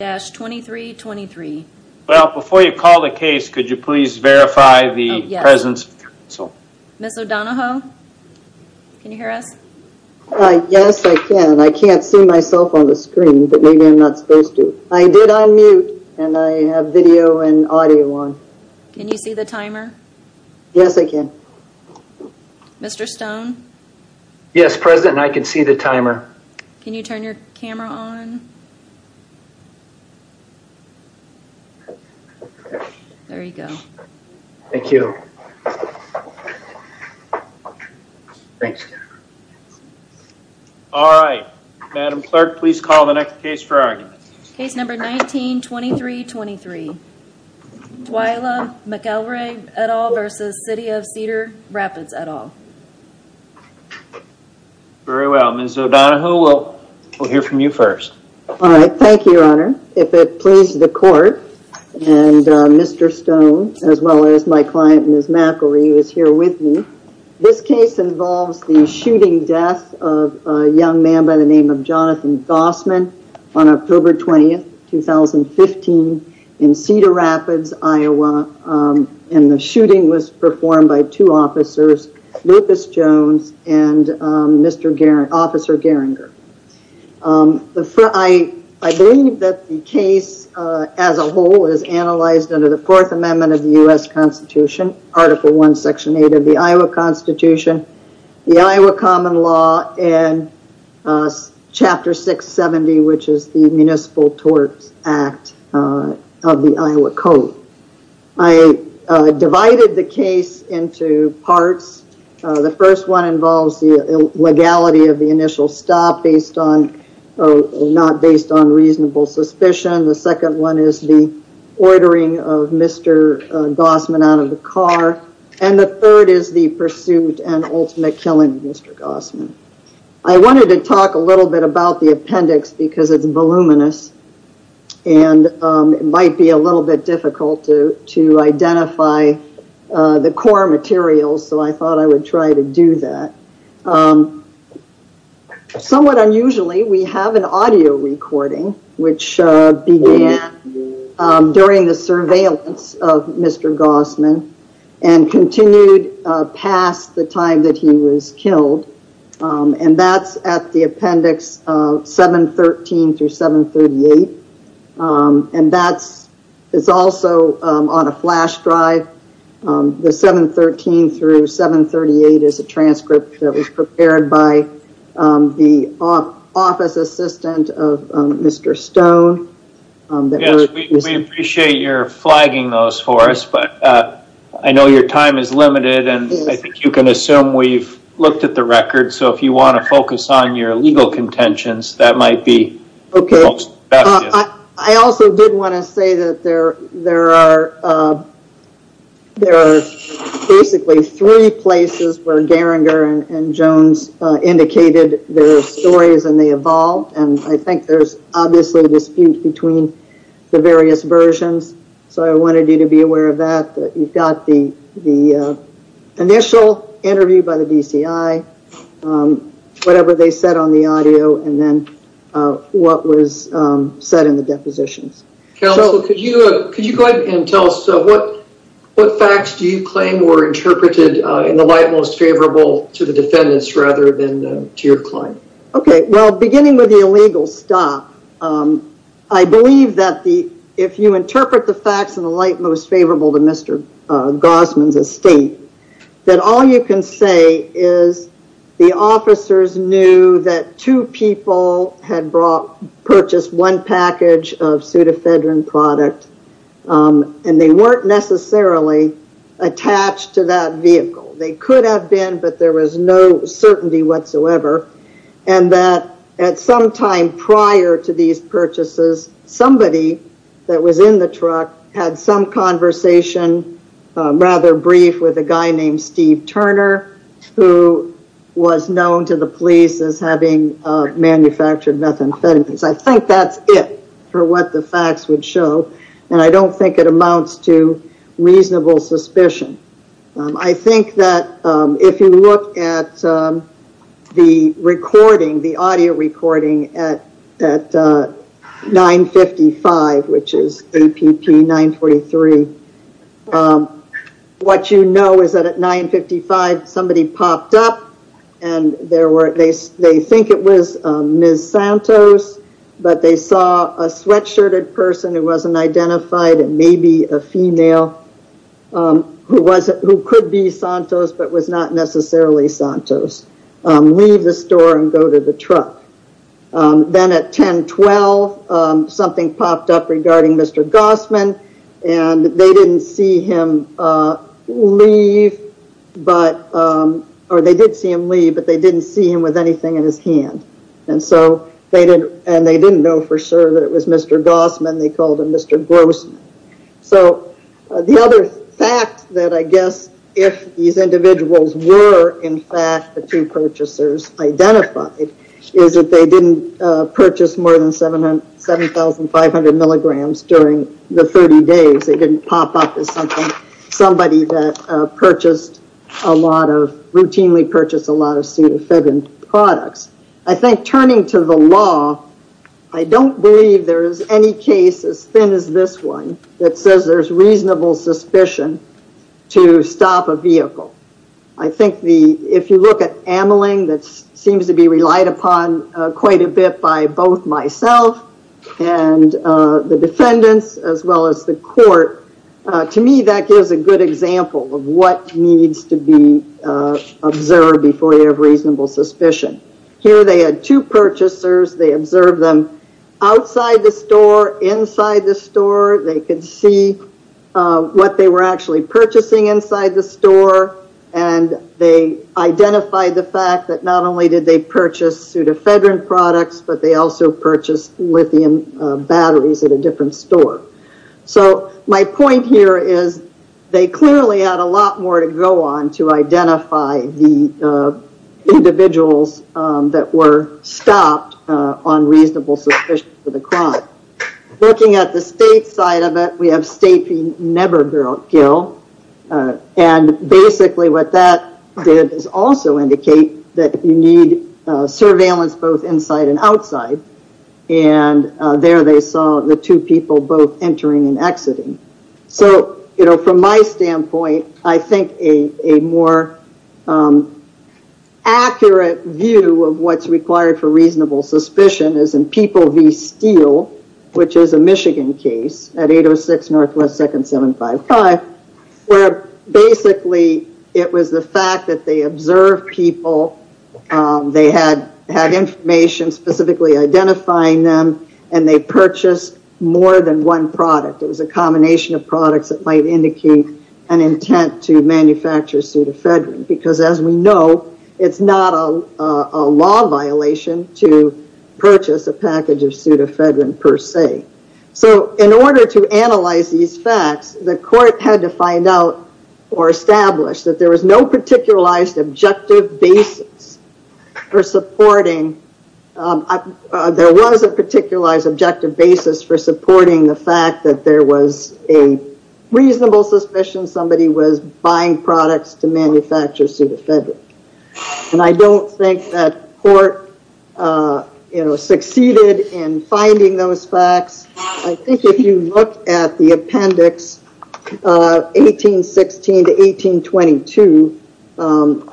2323 well before you call the case. Could you please verify the presence so miss O'Donoho? Can you hear us? Yes, I can I can't see myself on the screen, but maybe I'm not supposed to I did on mute And I have video and audio on can you see the timer? Yes, I can Mr.. Stone yes president. I can see the timer. Can you turn your camera on? I There you go, thank you Thanks All right madam clerk, please call the next case for argument case number 19 23 23 Twyla McElroy at all versus City of Cedar Rapids at all 2323 Very well miss O'Donoho. We'll we'll hear from you first all right. Thank you your honor if it pleases the court and Mr.. Stone as well as my client miss McElry who is here with me this case involves the shooting death of young man by the name of Jonathan Gossman on October 20th 2015 in Cedar Rapids, Iowa And the shooting was performed by two officers Lucas Jones and Mr.. Garren officer Geringer The front I I believe that the case as a whole is analyzed under the Fourth Amendment of the US Constitution Article 1 section 8 of the Iowa Constitution the Iowa Common Law and Chapter 670 which is the municipal torts act of the Iowa code I divided the case into parts the first one involves the legality of the initial stop based on Not based on reasonable suspicion the second one is the ordering of mr. Gossman out of the car and the third is the pursuit and ultimate killing mr. Gossman I wanted to talk a little bit about the appendix because it's voluminous and It might be a little bit difficult to to identify the core materials, so I thought I would try to do that Somewhat unusually we have an audio recording which began during the surveillance of mr. Gossman and Continued past the time that he was killed And that's at the appendix 713 through 738 And that's it's also on a flash drive the 713 through 738 is a transcript that was prepared by the office assistant of Mr. Stone Appreciate your flagging those for us, but I know your time is limited And I think you can assume we've looked at the record so if you want to focus on your legal contentions that might be Okay, I also didn't want to say that there there are There are basically three places where Geringer and Jones Indicated their stories and they evolved and I think there's obviously a dispute between the various versions, so I wanted you to be aware of that you've got the the initial interview by the DCI Whatever they said on the audio and then What was said in the depositions? Okay, you could you go ahead and tell us so what what facts do you claim were? Interpreted in the light most favorable to the defendants rather than to your client. Okay. Well beginning with the illegal stop I believe that the if you interpret the facts in the light most favorable to mr Gossman's estate that all you can say is The officers knew that two people had brought purchased one package of pseudofedron product And they weren't necessarily attached to that vehicle they could have been but there was no certainty whatsoever and That at some time prior to these purchases somebody that was in the truck had some conversation Rather brief with a guy named Steve Turner who was known to the police as having Manufactured methamphetamines. I think that's it for what the facts would show and I don't think it amounts to reasonable suspicion I think that if you look at the recording the audio recording at at 955 which is a pp 943 What you know is that at 955 somebody popped up and There were at least they think it was miss Santos But they saw a sweatshirted person who wasn't identified and maybe a female Who was it who could be Santos but was not necessarily Santos leave the store and go to the truck Then at 1012 something popped up regarding mr. Gossman and They didn't see him leave but Or they did see him leave, but they didn't see him with anything in his hand And so they did and they didn't know for sure that it was mr. Gossman. They called him. Mr. Grossman So the other fact that I guess if these individuals were in fact the two purchasers Identified is that they didn't purchase more than seven hundred seven thousand five hundred milligrams during the 30 days They didn't pop up as something somebody that purchased a lot of routinely purchased a lot of Pseudofibin products, I think turning to the law I don't believe there is any case as thin as this one that says there's reasonable suspicion To stop a vehicle I think the if you look at amyling that seems to be relied upon quite a bit by both myself and The defendants as well as the court to me that gives a good example of what needs to be Observed before you have reasonable suspicion here. They had two purchasers. They observed them Outside the store inside the store. They could see what they were actually purchasing inside the store and They identified the fact that not only did they purchase pseudofibin products, but they also purchased lithium batteries at a different store so my point here is they clearly had a lot more to go on to identify the Individuals that were stopped on reasonable suspicion for the crime Looking at the state side of it. We have state fee never girl Gil and basically what that did is also indicate that you need surveillance both inside and outside and There they saw the two people both entering and exiting. So, you know from my standpoint, I think a more Accurate view of what's required for reasonable suspicion is in people V steel Which is a Michigan case at 806 Northwest second seven five five Where basically it was the fact that they observed people They had had information specifically identifying them and they purchased more than one product it was a combination of products that might indicate an intent to manufacture pseudofibin because as we know, it's not a law violation to Purchase a package of pseudofibin per se So in order to analyze these facts the court had to find out or establish that there was no Particularized objective basis for supporting There was a particularized objective basis for supporting the fact that there was a Reasonable suspicion somebody was buying products to manufacture pseudofibin And I don't think that court You know succeeded in finding those facts. I think if you look at the appendix 1816 to 1822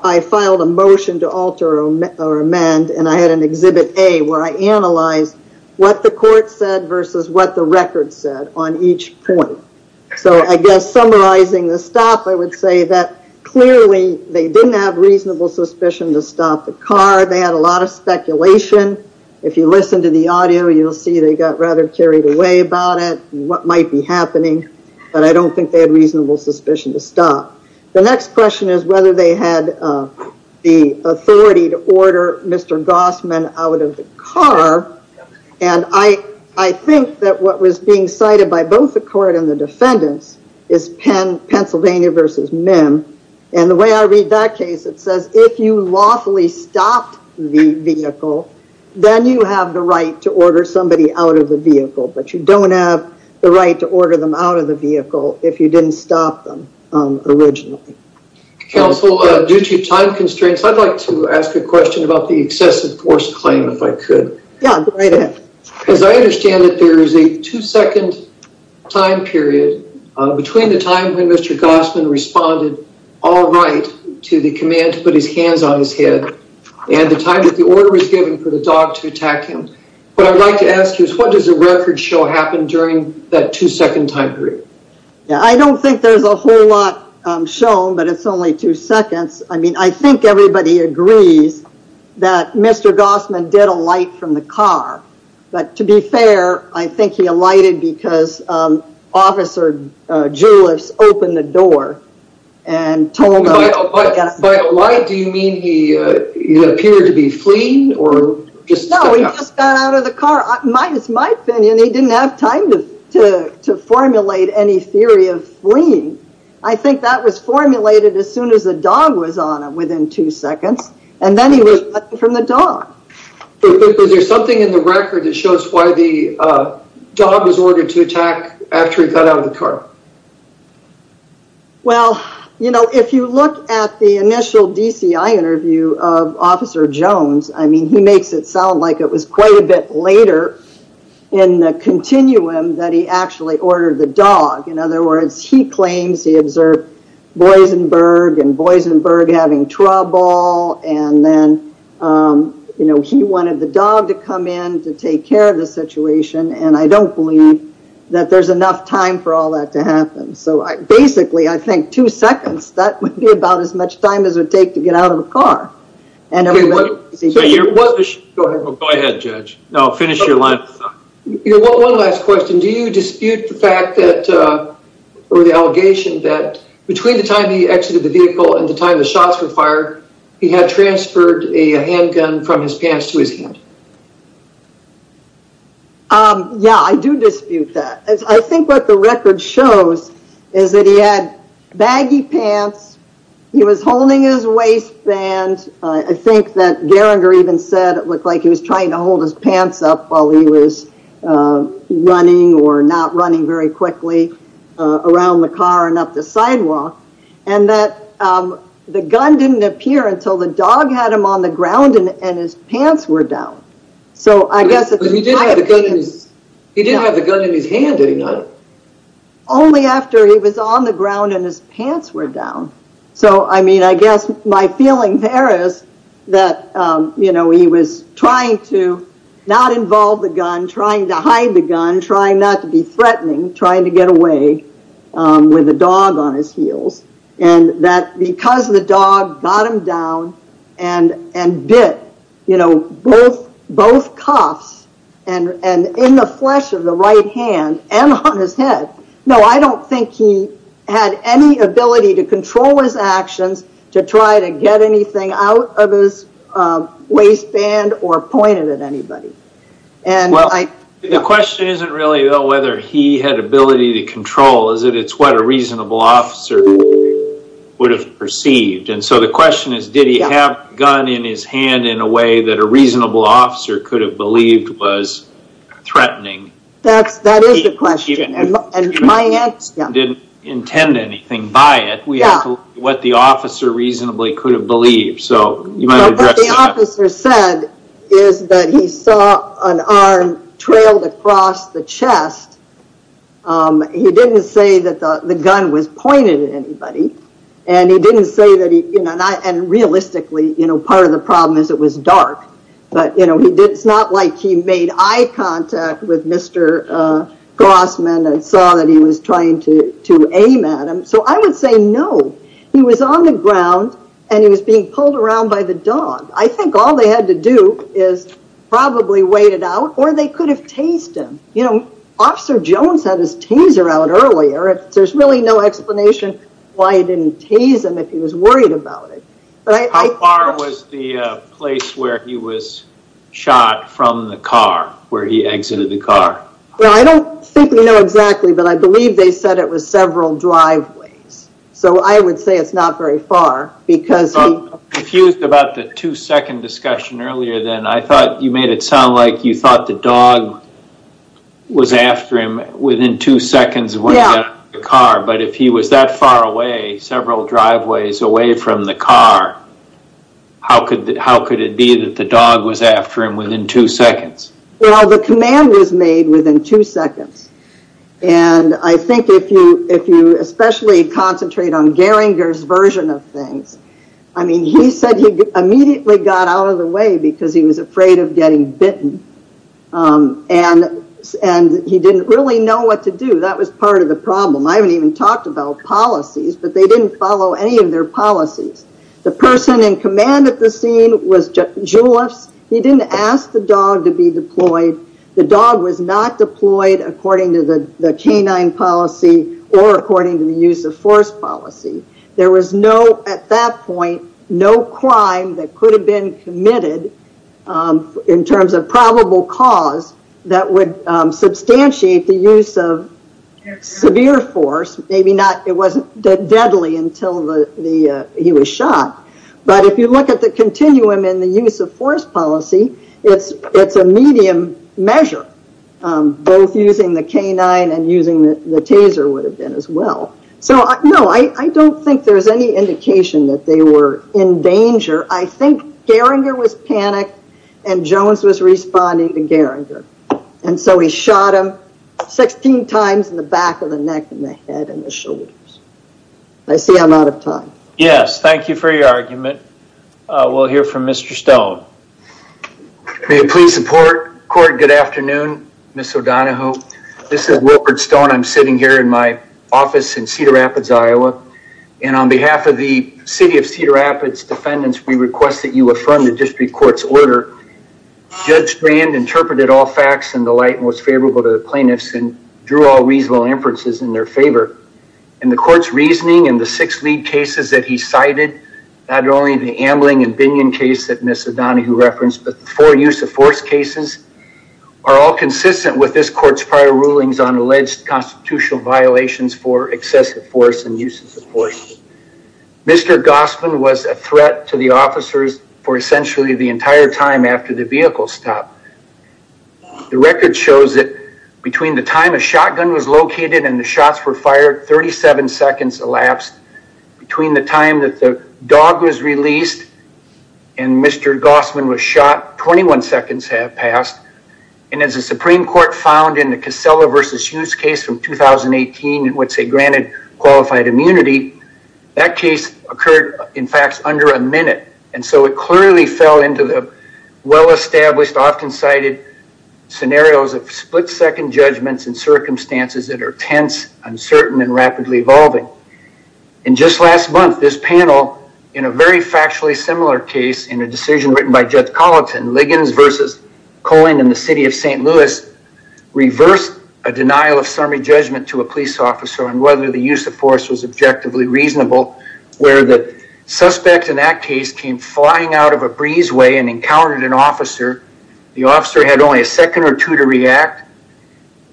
I filed a motion to alter or amend and I had an exhibit a where I Analyzed what the court said versus what the record said on each point So I guess summarizing the stop I would say that clearly they didn't have reasonable suspicion to stop the car They had a lot of speculation if you listen to the audio, you'll see they got rather carried away about it What might be happening, but I don't think they had reasonable suspicion to stop The next question is whether they had The authority to order. Mr. Gossman out of the car and I I think that what was being cited by both the court and the defendants is Penn Pennsylvania versus MIM and the way I read that case it says if you lawfully stopped the vehicle Then you have the right to order somebody out of the vehicle But you don't have the right to order them out of the vehicle if you didn't stop them originally Counsel due to time constraints. I'd like to ask a question about the excessive force claim if I could As I understand it, there is a two-second time period Between the time when mr Gossman responded all right to the command to put his hands on his head And the time that the order was given for the dog to attack him But I'd like to ask you is what does a record show happen during that two-second time period? Yeah, I don't think there's a whole lot shown, but it's only two seconds. I mean, I think everybody agrees that Mr. Gossman did a light from the car, but to be fair. I think he alighted because officer Julius opened the door and told Why do you mean he? Appeared to be fleeing or just got out of the car my it's my opinion He didn't have time to to formulate any theory of fleeing I think that was formulated as soon as the dog was on it within two seconds, and then he was from the dog Is there something in the record that shows why the dog was ordered to attack after he got out of the car? Well, you know if you look at the initial DCI interview of officer Jones I mean he makes it sound like it was quite a bit later in The continuum that he actually ordered the dog in other words. He claims he observed Boisenberg and Boisenberg having trouble and then You know he wanted the dog to come in to take care of the situation And I don't believe that there's enough time for all that to happen so I basically I think two seconds that would be about as much time as it would take to get out of a car and Go ahead judge. No finish your line Do you dispute the fact that Or the allegation that between the time he exited the vehicle and the time the shots were fired He had transferred a handgun from his pants to his head Um Yeah, I do dispute that as I think what the record shows is that he had baggy pants He was holding his waistband. I think that Geringer even said it looked like he was trying to hold his pants up while he was Running or not running very quickly around the car and up the sidewalk and that The gun didn't appear until the dog had him on the ground and his pants were down So I guess he didn't have the gun in his hand did he not? Only after he was on the ground and his pants were down So I mean, I guess my feeling there is that you know He was trying to not involve the gun trying to hide the gun trying not to be threatening trying to get away with the dog on his heels and that because the dog got him down and Bit, you know both both cuffs and and in the flesh of the right hand and on his head No, I don't think he had any ability to control his actions to try to get anything out of his Waistband or pointed at anybody and well I the question isn't really though whether he had ability to control is it it's what a reasonable officer Would have perceived and so the question is did he have gun in his hand in a way that a reasonable officer could have believed was Threatening that's that is the question and my answer didn't intend anything by it We know what the officer reasonably could have believed so Officer said is that he saw an arm trailed across the chest He didn't say that the gun was pointed at anybody and he didn't say that he you know, not and realistically, you know Part of the problem is it was dark, but you know, he did it's not like he made eye contact with. Mr. Grossman and saw that he was trying to to aim at him So I would say no, he was on the ground and he was being pulled around by the dog I think all they had to do is Probably wait it out or they could have tased him, you know Officer Jones had his taser out earlier if there's really no explanation why I didn't tase him if he was worried about it But I thought was the place where he was Shot from the car where he exited the car Well, I don't think we know exactly but I believe they said it was several driveways So I would say it's not very far because I'm confused about the two-second discussion earlier Then I thought you made it sound like you thought the dog Was after him within two seconds when he got out of the car, but if he was that far away several driveways away from the car How could that how could it be that the dog was after him within two seconds? Well, the command was made within two seconds And I think if you if you especially concentrate on Geringer's version of things I mean he said he immediately got out of the way because he was afraid of getting bitten And and he didn't really know what to do. That was part of the problem I haven't even talked about policies, but they didn't follow any of their policies the person in command at the scene was Juleps, he didn't ask the dog to be deployed The dog was not deployed according to the canine policy or according to the use of force policy There was no at that point no crime that could have been committed in terms of probable cause that would substantiate the use of Severe force maybe not it wasn't deadly until the the he was shot But if you look at the continuum in the use of force policy, it's it's a medium measure Both using the canine and using the taser would have been as well So no, I I don't think there's any indication that they were in danger I think Geringer was panicked and Jones was responding to Geringer and so he shot him 16 times in the back of the neck and the head and the shoulders. I See I'm out of time. Yes. Thank you for your argument We'll hear from Mr. Stone May it please support court good afternoon miss O'Donoghue. This is Wilford Stone I'm sitting here in my office in Cedar Rapids, Iowa and on behalf of the city of Cedar Rapids defendants We request that you affirm the district courts order Judge Grand interpreted all facts and the light most favorable to the plaintiffs and drew all reasonable inferences in their favor and The court's reasoning and the six lead cases that he cited not only the ambling and Binion case that miss O'Donoghue referenced but the four use of force cases Are all consistent with this court's prior rulings on alleged constitutional violations for excessive force and uses of force Mr. Gossman was a threat to the officers for essentially the entire time after the vehicle stopped The record shows that between the time a shotgun was located and the shots were fired 37 seconds elapsed between the time that the dog was released and Mr. Gossman was shot 21 seconds have passed and as the Supreme Court found in the Casella versus Hughes case from 2018 and would say granted qualified immunity that case occurred in fact under a minute And so it clearly fell into the well-established often cited scenarios of split-second judgments and circumstances that are tense uncertain and rapidly evolving and Written by Judge Colleton Liggins versus Cohen in the city of st. Louis reversed a denial of summary judgment to a police officer and whether the use of force was objectively reasonable where the Suspect in that case came flying out of a breezeway and encountered an officer the officer had only a second or two to react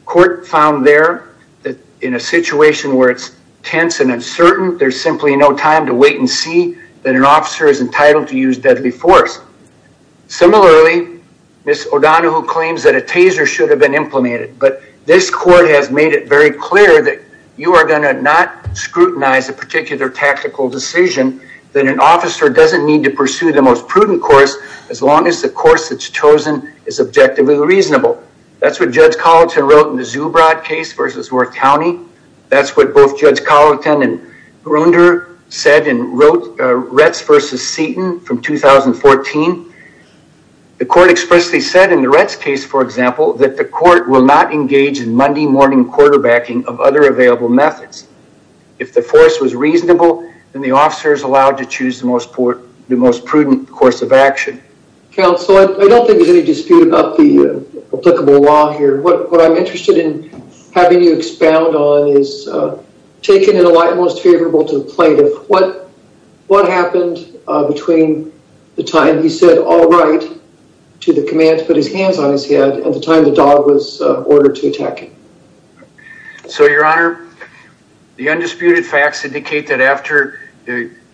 Court found there that in a situation where it's tense and uncertain There's simply no time to wait and see that an officer is entitled to use deadly force Similarly miss O'Donoghue claims that a taser should have been implemented But this court has made it very clear that you are going to not Scrutinize a particular tactical decision that an officer doesn't need to pursue the most prudent course as long as the course that's chosen is Objectively reasonable, that's what Judge Colleton wrote in the Zubrod case versus Worth County That's what both Judge Colleton and Grunder said and wrote Retz versus Seton from 2014 The court expressly said in the Retz case for example that the court will not engage in Monday morning quarterbacking of other available methods If the force was reasonable and the officers allowed to choose the most port the most prudent course of action Counselor, I don't think there's any dispute about the applicable law here What I'm interested in having you expound on is Taking it a lot most favorable to the plaintiff. What what happened between the time he said all right To the command to put his hands on his head at the time the dog was ordered to attack him so your honor the undisputed facts indicate that after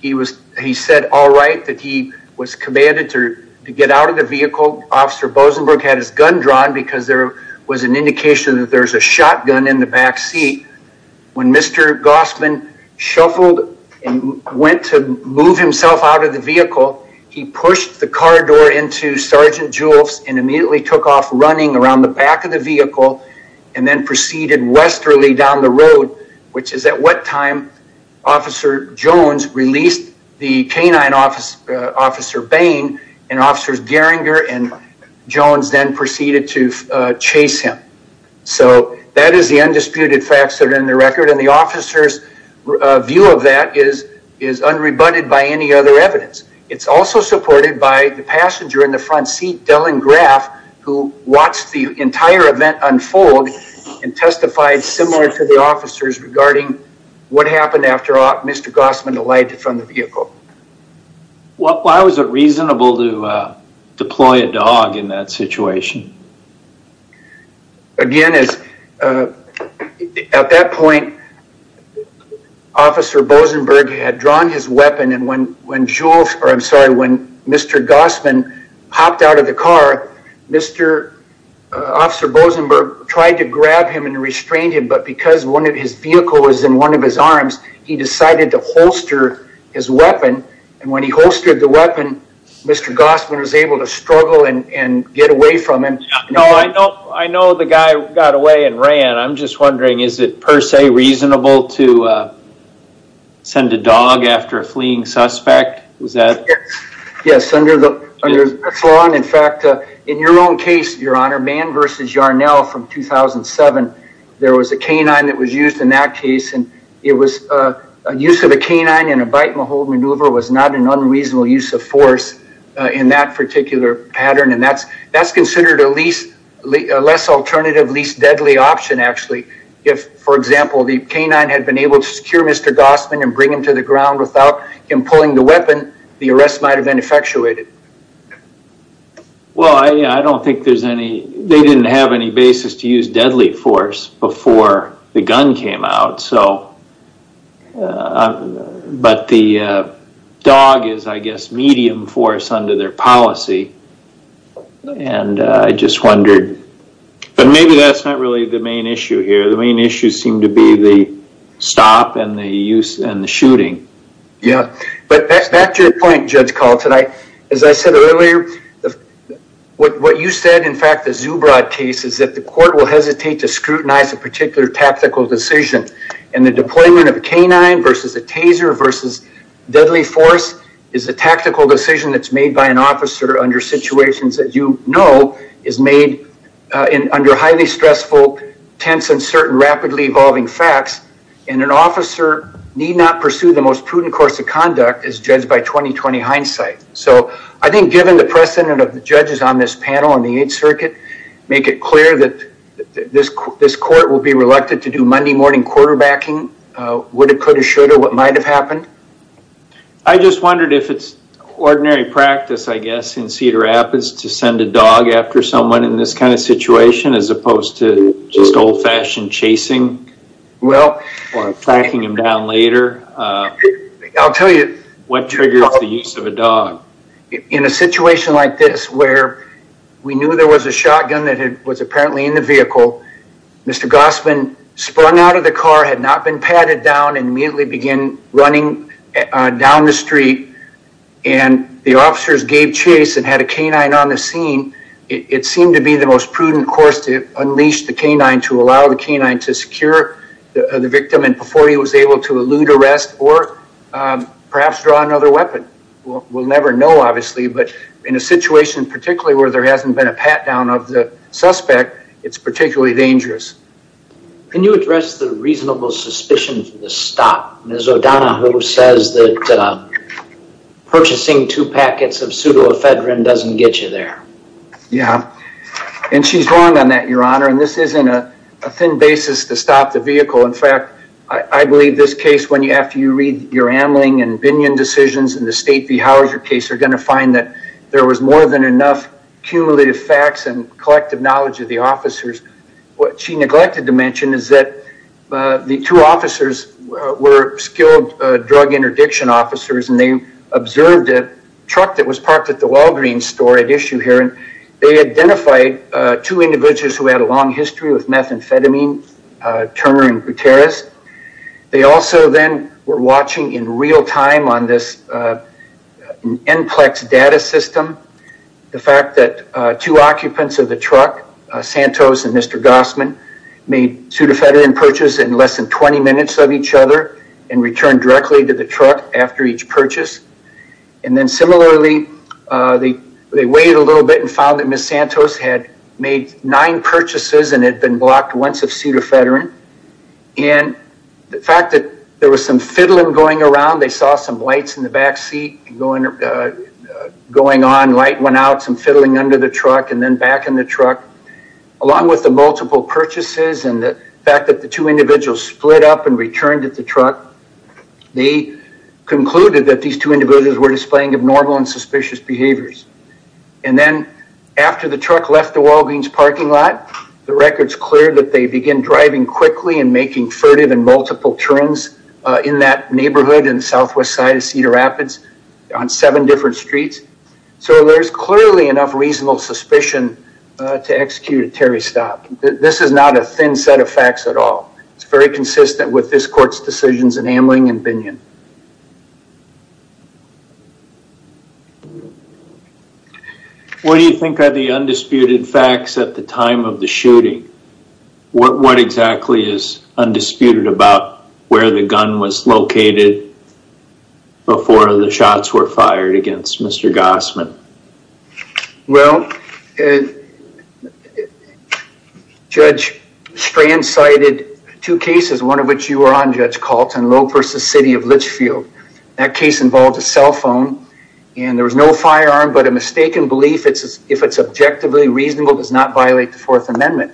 He was he said all right that he was commanded to get out of the vehicle Officer Bosenberg had his gun drawn because there was an indication that there's a shotgun in the backseat When mr. Gossman Shuffled and went to move himself out of the vehicle he pushed the car door into sergeant Jules and immediately took off running around the back of the vehicle and Then proceeded westerly down the road, which is at what time? Officer Jones released the canine officer officer Bain and officers Geringer and Jones then proceeded to chase him So that is the undisputed facts that are in the record and the officers View of that is is unrebutted by any other evidence It's also supported by the passenger in the front seat Dellen Graf who watched the entire event unfold And testified similar to the officers regarding what happened after all mr. Gossman elided from the vehicle What why was it reasonable to? Deploy a dog in that situation Again is at that point Officer Bosenberg had drawn his weapon and when when Jules or I'm sorry when mr. Gossman hopped out of the car mr. Officer Bosenberg tried to grab him and restrain him, but because one of his vehicle was in one of his arms He decided to holster his weapon and when he holstered the weapon Mr. Gossman was able to struggle and get away from him. No. I know I know the guy got away and ran I'm just wondering is it per se reasonable to Send a dog after a fleeing suspect was that yes, yes under the Swan in fact in your own case your honor man versus Yarnell from 2007 there was a canine that was used in that case and it was a Canine in a bite-and-hold maneuver was not an unreasonable use of force in that particular pattern And that's that's considered at least Less alternative least deadly option actually if for example the canine had been able to secure mr. Gossman and bring him to the ground without him pulling the weapon the arrest might have been effectuated Well, I don't think there's any they didn't have any basis to use deadly force before the gun came out so I'm but the Dog is I guess medium force under their policy And I just wondered But maybe that's not really the main issue here the main issues seem to be the stop and the use and the shooting Yeah, but that's your point judge call tonight as I said earlier What you said in fact the Zubrod case is that the court will hesitate to scrutinize a particular Tactical decision and the deployment of a canine versus a taser versus deadly force is a tactical decision That's made by an officer under situations that you know is made in under highly stressful Tense and certain rapidly evolving facts and an officer need not pursue the most prudent course of conduct as judged by 2020 hindsight, so I think given the precedent of the judges on this panel on the 8th circuit make it clear that This court will be reluctant to do Monday morning quarterbacking would it could have should or what might have happened I Just wondered if it's ordinary practice I guess in Cedar Rapids to send a dog after someone in this kind of situation as opposed to just old-fashioned chasing Well tracking him down later I'll tell you what triggers the use of a dog in a situation like this where We knew there was a shotgun that had was apparently in the vehicle Mr. Gossman sprung out of the car had not been padded down and immediately begin running down the street and The officers gave chase and had a canine on the scene It seemed to be the most prudent course to unleash the canine to allow the canine to secure the other victim and before he was able to elude arrest or Perhaps draw another weapon We'll never know obviously, but in a situation particularly where there hasn't been a pat-down of the suspect. It's particularly dangerous Can you address the reasonable suspicion for the stop? There's O'Donoghue who says that Purchasing two packets of pseudoephedrine doesn't get you there Yeah, and she's wrong on that your honor, and this isn't a thin basis to stop the vehicle in fact I believe this case when you after you read your Amling and Binion decisions in the state v. Houser case are going to find that there was more than enough Cumulative facts and collective knowledge of the officers what she neglected to mention is that? the two officers were skilled drug interdiction officers And they observed a truck that was parked at the Walgreens store at issue here And they identified two individuals who had a long history with methamphetamine Turner and Gutierrez, they also then were watching in real time on this NCLEX data system the fact that two occupants of the truck Santos and mr. Gossman made pseudoephedrine purchase in less than 20 minutes of each other and returned directly to the truck after each purchase and then similarly They they waited a little bit and found that miss Santos had made nine purchases and had been blocked once of pseudoephedrine and The fact that there was some fiddling going around they saw some lights in the backseat going Going on light went out some fiddling under the truck and then back in the truck Along with the multiple purchases and the fact that the two individuals split up and returned at the truck they Concluded that these two individuals were displaying abnormal and suspicious behaviors and Then after the truck left the Walgreens parking lot The record's clear that they begin driving quickly and making furtive and multiple turns In that neighborhood in the southwest side of Cedar Rapids on seven different streets So there's clearly enough reasonable suspicion to execute a Terry stop. This is not a thin set of facts at all It's very consistent with this court's decisions in Amling and Binion and What do you think are the undisputed facts at the time of the shooting What what exactly is? Undisputed about where the gun was located Before the shots were fired against. Mr. Gossman well Judge Strand cited two cases one of which you were on judge Colton Loper's the city of Litchfield That case involved a cell phone and there was no firearm but a mistaken belief it's if it's objectively reasonable does not violate the Fourth Amendment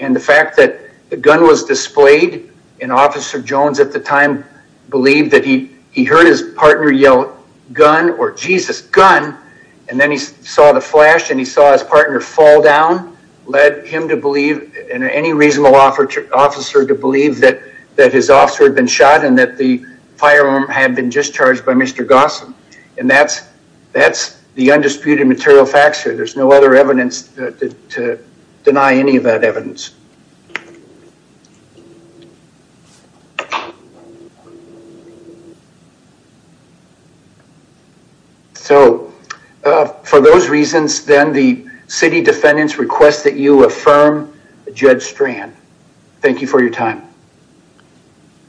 and The fact that the gun was displayed in officer Jones at the time Believed that he he heard his partner yell gun or Jesus gun And then he saw the flash and he saw his partner fall down led him to believe in any reasonable offer to officer to believe that that his officer had been shot and that the Firearm had been discharged by mr. Gossam. And that's that's the undisputed material facts here. There's no other evidence to deny any of that evidence So For those reasons then the city defendants request that you affirm a judge strand. Thank you for your time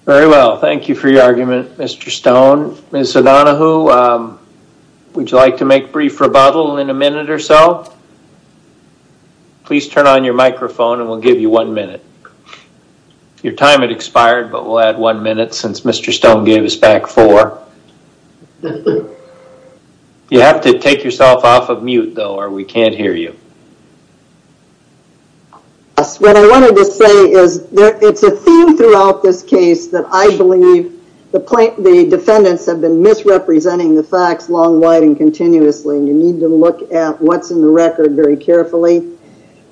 Very well. Thank you for your argument. Mr. Stone, mr. Donahue Would you like to make brief rebuttal in a minute or so? Please turn on your microphone and we'll give you one minute Your time had expired but we'll add one minute since mr. Stone gave us back four You have to take yourself off of mute though or we can't hear you What I wanted to say is there it's a theme throughout this case that I believe the plaintiff the defendants have been Misrepresenting the facts long wide and continuously and you need to look at what's in the record very carefully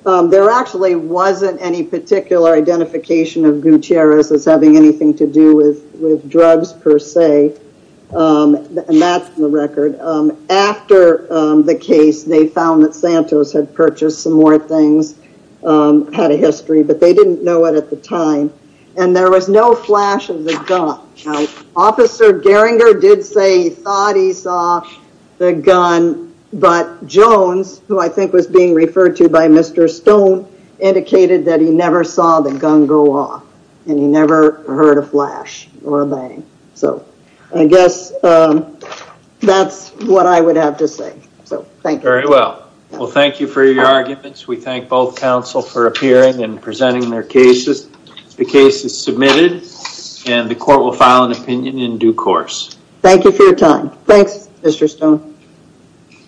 There actually wasn't any particular identification of Gutierrez as having anything to do with with drugs per se And that's the record After the case they found that Santos had purchased some more things Had a history, but they didn't know it at the time and there was no flash of the gun Officer Geringer did say he thought he saw the gun But Jones who I think was being referred to by mr. Stone Indicated that he never saw the gun go off and he never heard a flash or a bang. So I guess That's what I would have to say. So, thank you very well. Well, thank you for your arguments We thank both counsel for appearing and presenting their cases The case is submitted and the court will file an opinion in due course. Thank you for your time. Thanks. Mr. Stone Thank you